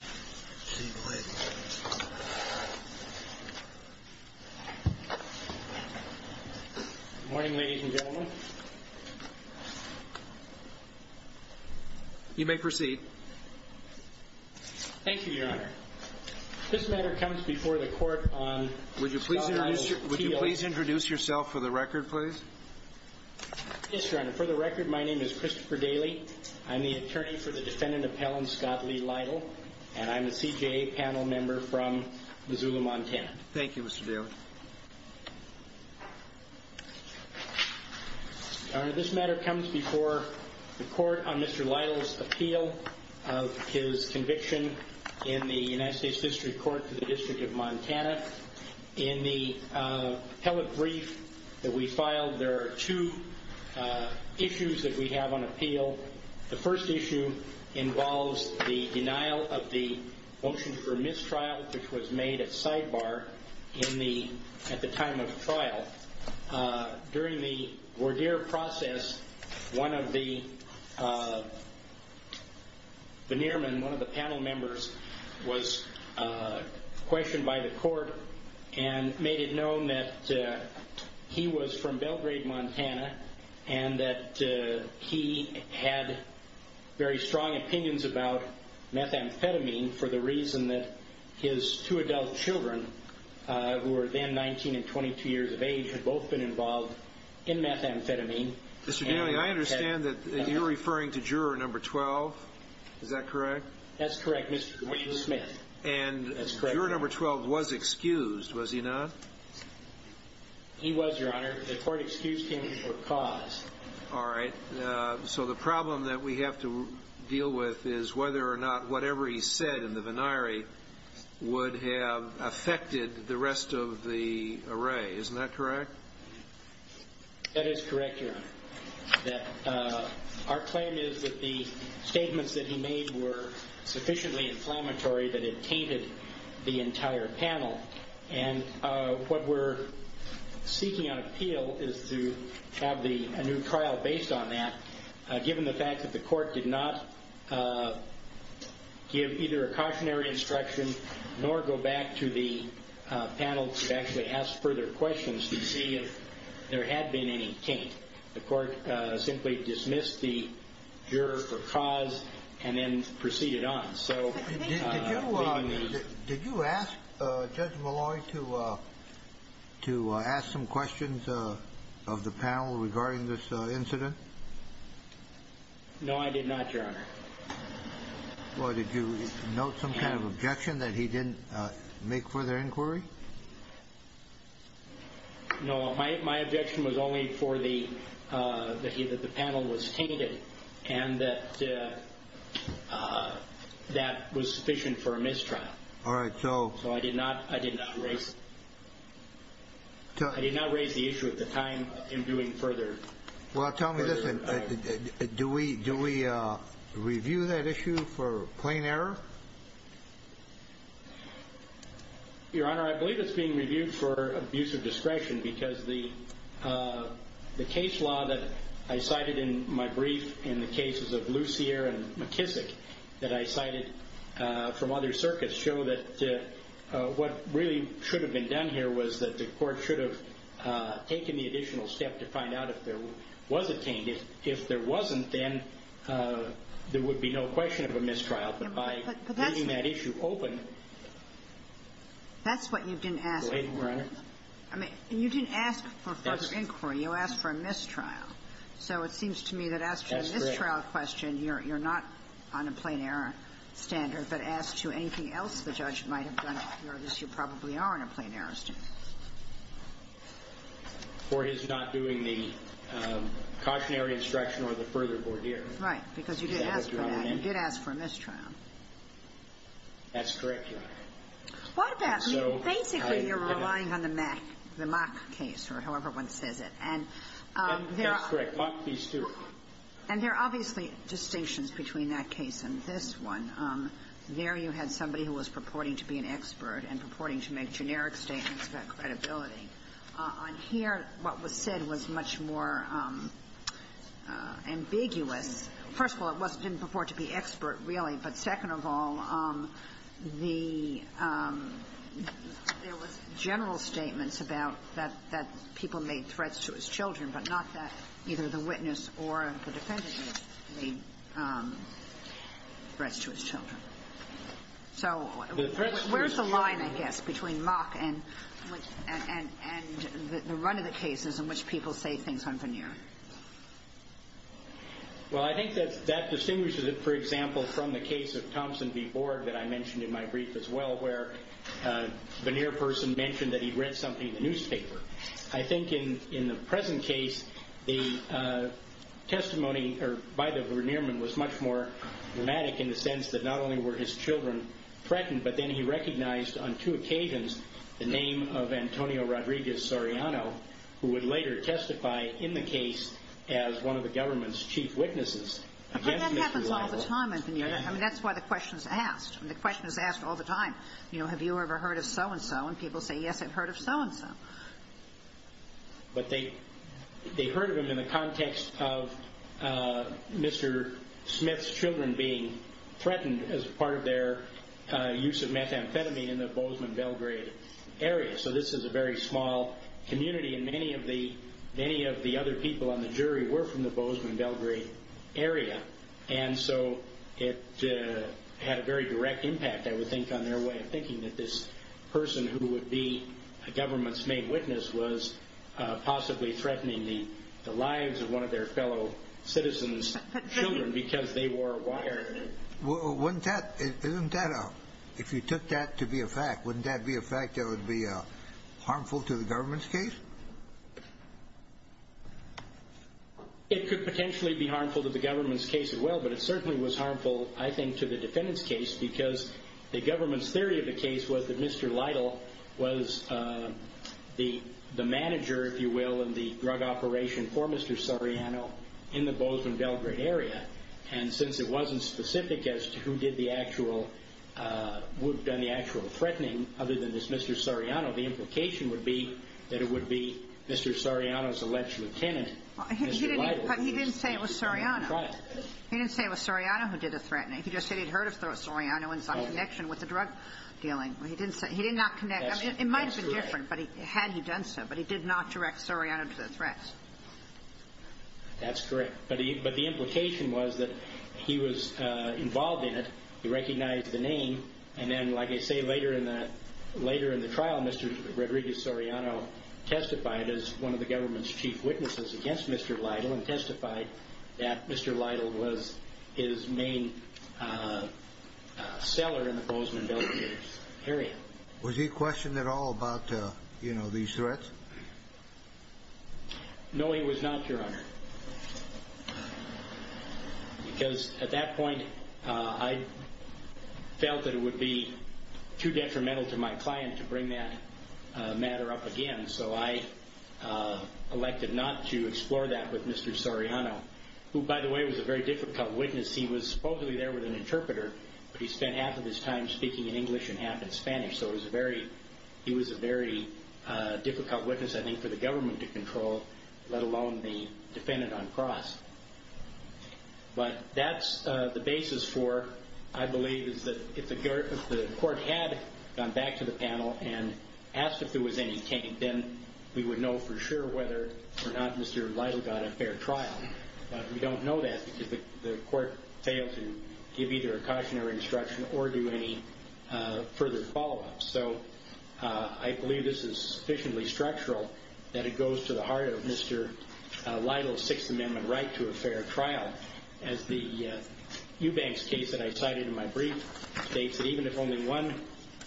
Good morning, ladies and gentlemen. You may proceed. Thank you, your honor. This matter comes before the court on... Would you please introduce yourself for the record, please? Yes, your honor. For the record, my name is Christopher Daly. I'm the attorney for the and I'm a CJA panel member from Missoula, Montana. Thank you, Mr. Daly. Your honor, this matter comes before the court on Mr. Lytle's appeal of his conviction in the United States District Court for the District of Montana. In the appellate brief that we filed, there are two issues that we have on appeal. The first issue involves the denial of the motion for mistrial, which was made at sidebar at the time of the trial. During the voir dire process, one of the panel members was questioned by the court and made it known that he was from Belgrade, Montana, and that he had very strong opinions about methamphetamine for the reason that his two adult children, who were then 19 and 22 years of age, had both been involved in methamphetamine. Mr. Daly, I understand that you're referring to juror number 12. Is that correct? That's correct, Mr. Smith. And juror number 12 was excused, was he not? He was, your honor. The court excused him for cause. All right. So the problem that we have to deal with is whether or not whatever he said in the voir dire would have affected the rest of the array. Isn't that correct? That is correct, your honor. Our claim is that the statements that he made were sufficiently inflammatory that it tainted the entire panel. And what we're seeking on appeal is to have a new trial based on that, given the fact that the court did not give either a cautionary instruction nor go back to the panel to actually ask further questions to see if there had been any taint. The court simply dismissed the juror for cause and then proceeded on. Did you ask Judge Malloy to ask some questions of the panel regarding this incident? No, I did not, your honor. Well, did you note some kind of objection that he didn't make further inquiry? No, my objection was only for the, uh, that he, that the panel was tainted and that, uh, uh, that was sufficient for a mistrial. All right. So, so I did not, I did not raise, I did not raise the issue at the time of him doing further. Well, tell me this. Do we, do we, uh, review that issue for plain error? Your honor, I believe it's being reviewed for abuse of discretion because the, uh, the case law that I cited in my brief, in the cases of Lucier and McKissick that I cited, uh, from other circuits show that, uh, uh, what really should have been done here was that the court should have, uh, taken the additional step to find out if there was a taint. If, if there wasn't, then, uh, there would be no question of a mistrial, but by keeping that issue open. That's what you didn't ask. I mean, you didn't ask for further inquiry. You asked for a mistrial. So it seems to me that after the mistrial question, you're, you're not on a plain error standard, but as to anything else the judge might have done, you probably are on a plain error standard. For his not doing the, um, cautionary instruction or the further board here. Right. Because you did ask for that. You did ask for a mistrial. That's correct, your honor. What about, I think you're relying on the Mack, the Mack case, or however one says it. And, um, that's correct, Mack v. Stewart. And there are obviously distinctions between that case and this one. Um, there you had somebody who was purporting to be an expert and purporting to make generic statements about credibility. On here, what was said was much more, um, uh, ambiguous. First of all, it wasn't, didn't purport to be expert, really. But second of all, um, the, um, there was general statements about that, that people made threats to his children, but not that either the witness or the defendant made, um, threats to his children. So where's the line, I guess, between Mack and, and, and, and the run of the cases in which people say things on veneer? Well, I think that's, that distinguishes it, for example, from the case of Thompson v. Borg that I mentioned in my brief as well, where a veneer person mentioned that he read something in the newspaper. I think in, in the present case, the, uh, testimony by the veneerman was much more dramatic in the sense that not only were his children threatened, but then he recognized on two occasions the name of as one of the government's chief witnesses. But that happens all the time in veneer. I mean, that's why the question's asked. I mean, the question is asked all the time. You know, have you ever heard of so and so? And people say, yes, I've heard of so and so. But they, they heard of him in the context of, uh, Mr. Smith's children being threatened as part of their, uh, use of methamphetamine in the Bozeman Belgrade area. So this is a very small community, and many of the, many of the other people on the jury were from the Bozeman Belgrade area. And so it, uh, had a very direct impact, I would think, on their way of thinking that this person who would be a government's main witness was, uh, possibly threatening the, the lives of one of their fellow citizens' children because they wore a wire. Well, wouldn't that, isn't that, uh, if you took that to be a fact, wouldn't that be a fact that it would be, uh, harmful to the government's case? It could potentially be harmful to the government's case as well, but it certainly was harmful, I think, to the defendant's case because the government's theory of the case was that Mr. Lytle was, uh, the, the manager, if you will, in the drug operation for Mr. Soriano in the Bozeman Belgrade area. And since it wasn't specific as to who did the actual, uh, who had done the actual threatening, other than this Mr. Soriano, the implication would be that it would be Mr. Soriano's alleged lieutenant, Mr. Lytle, who was the child. He didn't say it was Soriano. He didn't say it was Soriano who did the threatening. He just said he'd heard of Soriano and some connection with the drug dealing. He didn't say, he did not connect. I mean, it might have been different, but he, had he done so, but he did not direct Soriano to the threats. He did not involve in it. He recognized the name. And then, like I say, later in that, later in the trial, Mr. Rodriguez Soriano testified as one of the government's chief witnesses against Mr. Lytle and testified that Mr. Lytle was his main, uh, uh, seller in the Bozeman Belgrade area. Was he questioned at all about, uh, you know, these threats? No, he was not, Your Honor. Because at that point, uh, I felt that it would be too detrimental to my client to bring that, uh, matter up again, so I, uh, elected not to explore that with Mr. Soriano, who, by the way, was a very difficult witness. He was supposedly there with an interpreter, but he spent half of his time speaking in English and half in Spanish. So it was a very, he was a very, uh, difficult witness, I think, for the government to control, let alone the defendant on cross. But that's, uh, the basis for, I believe, is that if the, if the court had gone back to the panel and asked if there was any taint, then we would know for sure whether or not Mr. Lytle got a fair trial. But we don't know that because the court failed to give either a caution or instruction or do any, uh, I believe this is sufficiently structural that it goes to the heart of Mr. Lytle's Sixth Amendment right to a fair trial. As the, uh, Eubanks case that I cited in my brief states that even if only one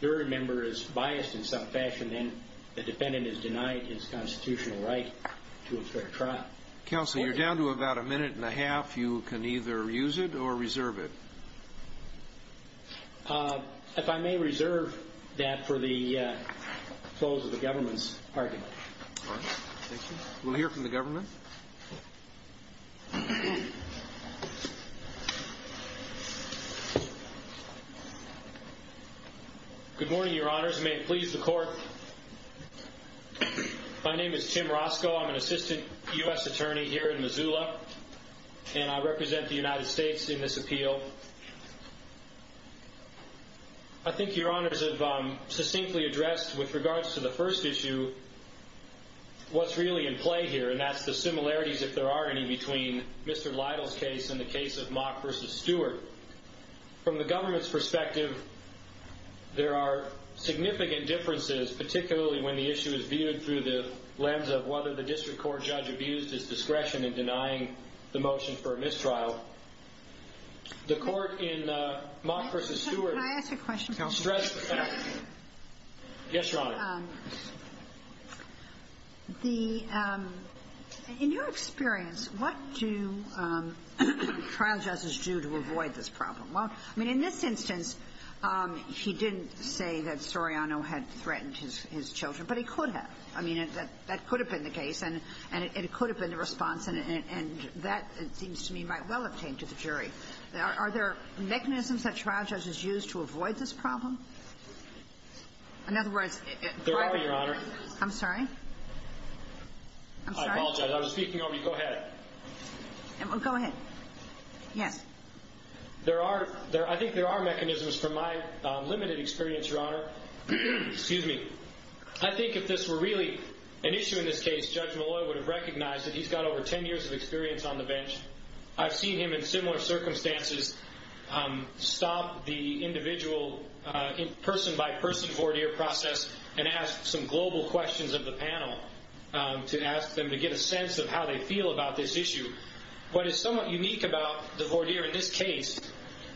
jury member is biased in some fashion, then the defendant is denied his constitutional right to a fair trial. Counsel, you're down to about a minute and a half. You can either use it or reserve it. Uh, if I may reserve that for the, uh, close of the government's argument. All right. Thank you. We'll hear from the government. Good morning, Your Honors. May it please the court. My name is Tim Roscoe. I'm an assistant U.S. attorney here in Missoula, and I represent the United States in this appeal. I think Your Honors have, um, succinctly addressed with regards to the first issue what's really in play here, and that's the similarities, if there are any, between Mr. Lytle's case and the case of Mock versus Stewart. From the government's perspective, there are significant differences, particularly when the issue is viewed through the lens of whether the district court judge abused his discretion in denying the motion for a mistrial. The court in, uh, Mock versus Stewart Can I ask a question? stressed the fact that Yes, Your Honor. The, um, in your experience, what do, um, trial judges do to avoid this problem? Well, I mean, in this instance, um, he didn't say that Soriano had threatened his children, but he could have. I mean, that could have been the response, and it could have been the response, and that, it seems to me, might well have came to the jury. Are there mechanisms that trial judges use to avoid this problem? In other words, There are, Your Honor. I'm sorry. I apologize. I was speaking over you. Go ahead. Go ahead. Yes. There are, I think there are mechanisms from my limited experience, Your Honor. Excuse me. I think if this were really an issue in this case, Judge Molloy would have recognized that he's got over ten years of experience on the bench. I've seen him in similar circumstances, um, stop the individual, uh, person-by-person voir dire process and ask some global questions of the panel, um, to ask them to get a sense of how they feel about this issue. What is somewhat unique about the voir dire in this case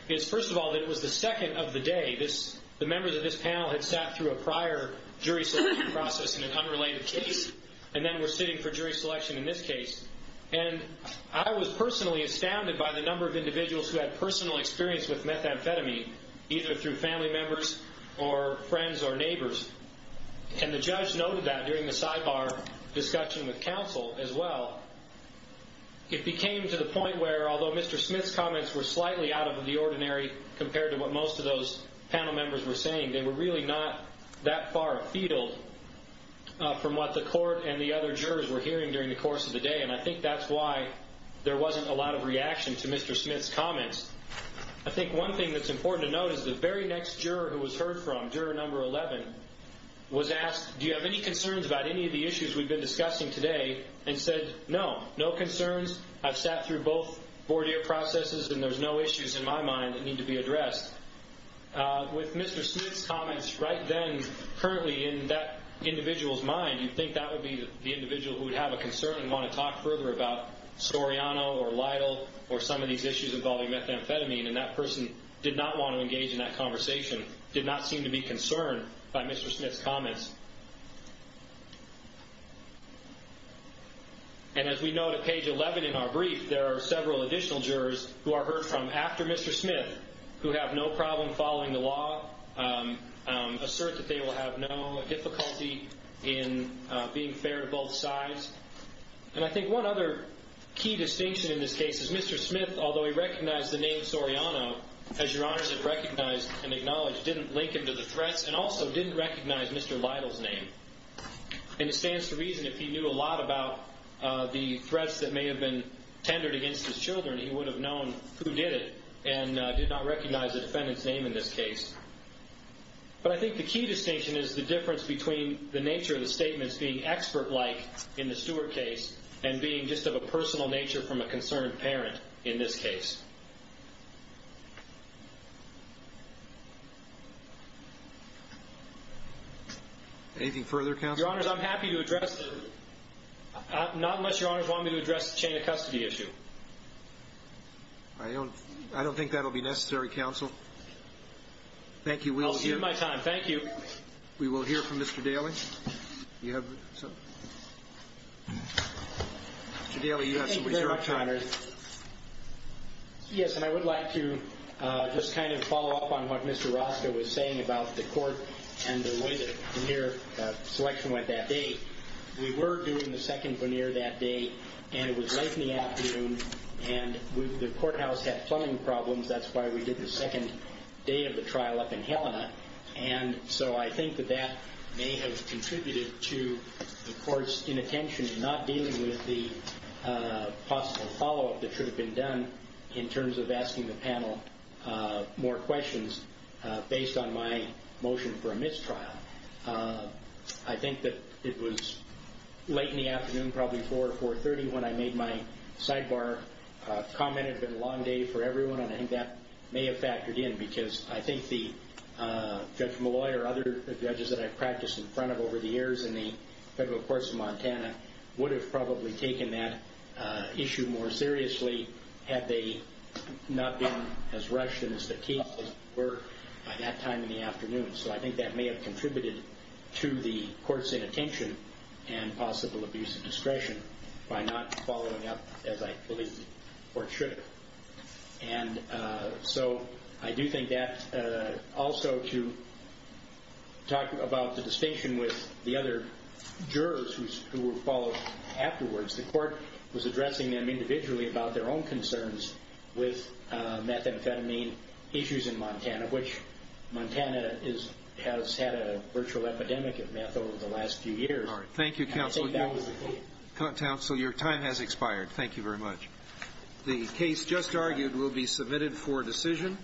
is, first of all, that it was the second of the day this, the members of this panel had sat through a prior jury selection process in an unrelated case, and then were sitting for jury selection in this case. And I was personally astounded by the number of individuals who had personal experience with methamphetamine, either through family members or friends or neighbors. And the judge noted that during the sidebar discussion with counsel as well. It became to the point where, although Mr. Smith's comments were slightly out of the ordinary compared to what most of those panel members were saying, they were really not that far afield from what the court and the other jurors were hearing during the course of the day, and I think that's why there wasn't a lot of reaction to Mr. Smith's comments. I think one thing that's important to note is the very next juror who was heard from, juror number 11, was asked, do you have any concerns about any of the issues we've been discussing today? And said, no, no concerns. I've sat through both in my mind that need to be addressed. With Mr. Smith's comments right then, currently in that individual's mind, you'd think that would be the individual who would have a concern and want to talk further about Storiano or Lytle or some of these issues involving methamphetamine, and that person did not want to engage in that conversation, did not seem to be concerned by Mr. Smith's comments. And as we note at page 11 in our brief, there are several additional jurors who are heard from after Mr. Smith, who have no problem following the law, assert that they will have no difficulty in being fair to both sides. And I think one other key distinction in this case is Mr. Smith, although he recognized the name Storiano, as Your Honors have recognized and acknowledged, didn't link him to the threats and also didn't recognize Mr. Lytle's name. And it stands to reason if he knew a lot about the threats that may have been tendered against his children, he would have known who did it and did not recognize the defendant's name in this case. But I think the key distinction is the difference between the nature of the statements being expert-like in the Stewart case and being just of a personal nature from a concerned parent in this case. Anything further, Counselor? Your Honors, I'm happy to address the... not unless Your Honors want me to address the chain of custody issue. I don't... I don't think that will be necessary, Counsel. Thank you. We'll see... I'll give you my time. Thank you. We will hear from Mr. Daly. You have... Mr. Daly, you have something to say. Thank you very much, Your Honors. Yes, and I would like to just kind of follow up on what Mr. Roscoe was saying about the court and the way the veneer selection went that day. We were doing the second veneer that day and it was late in the afternoon and the courthouse had plumbing problems, that's why we did the second day of the trial up in Helena and so I think that that may have contributed to the court's inattention in not dealing with the possible follow-up that should have been done in terms of asking the panel more questions based on my motion for a mistrial. I think that it was late in the afternoon, probably 4 or 4.30 when I made my sidebar comment. It had been a long day for everyone and I think that may have factored in because I think the Judge Molloy or other judges that I've practiced in front of over the years in the Federal Courts of Montana would have probably taken that issue more seriously had they not been as rushed as the cases were by that time in the afternoon. So I think that may have contributed to the court's inattention and possible abuse of discretion by not following up as I believe the court should have. And so I do think that also to talk about the distinction with the other jurors who were followed afterwards, the court was addressing them individually about their own concerns with methamphetamine issues in Montana, which Montana has had a virtual epidemic of meth over the last few years. Thank you, Counsel. Counsel, your time has expired. Thank you very much. The case just argued will be submitted for decision.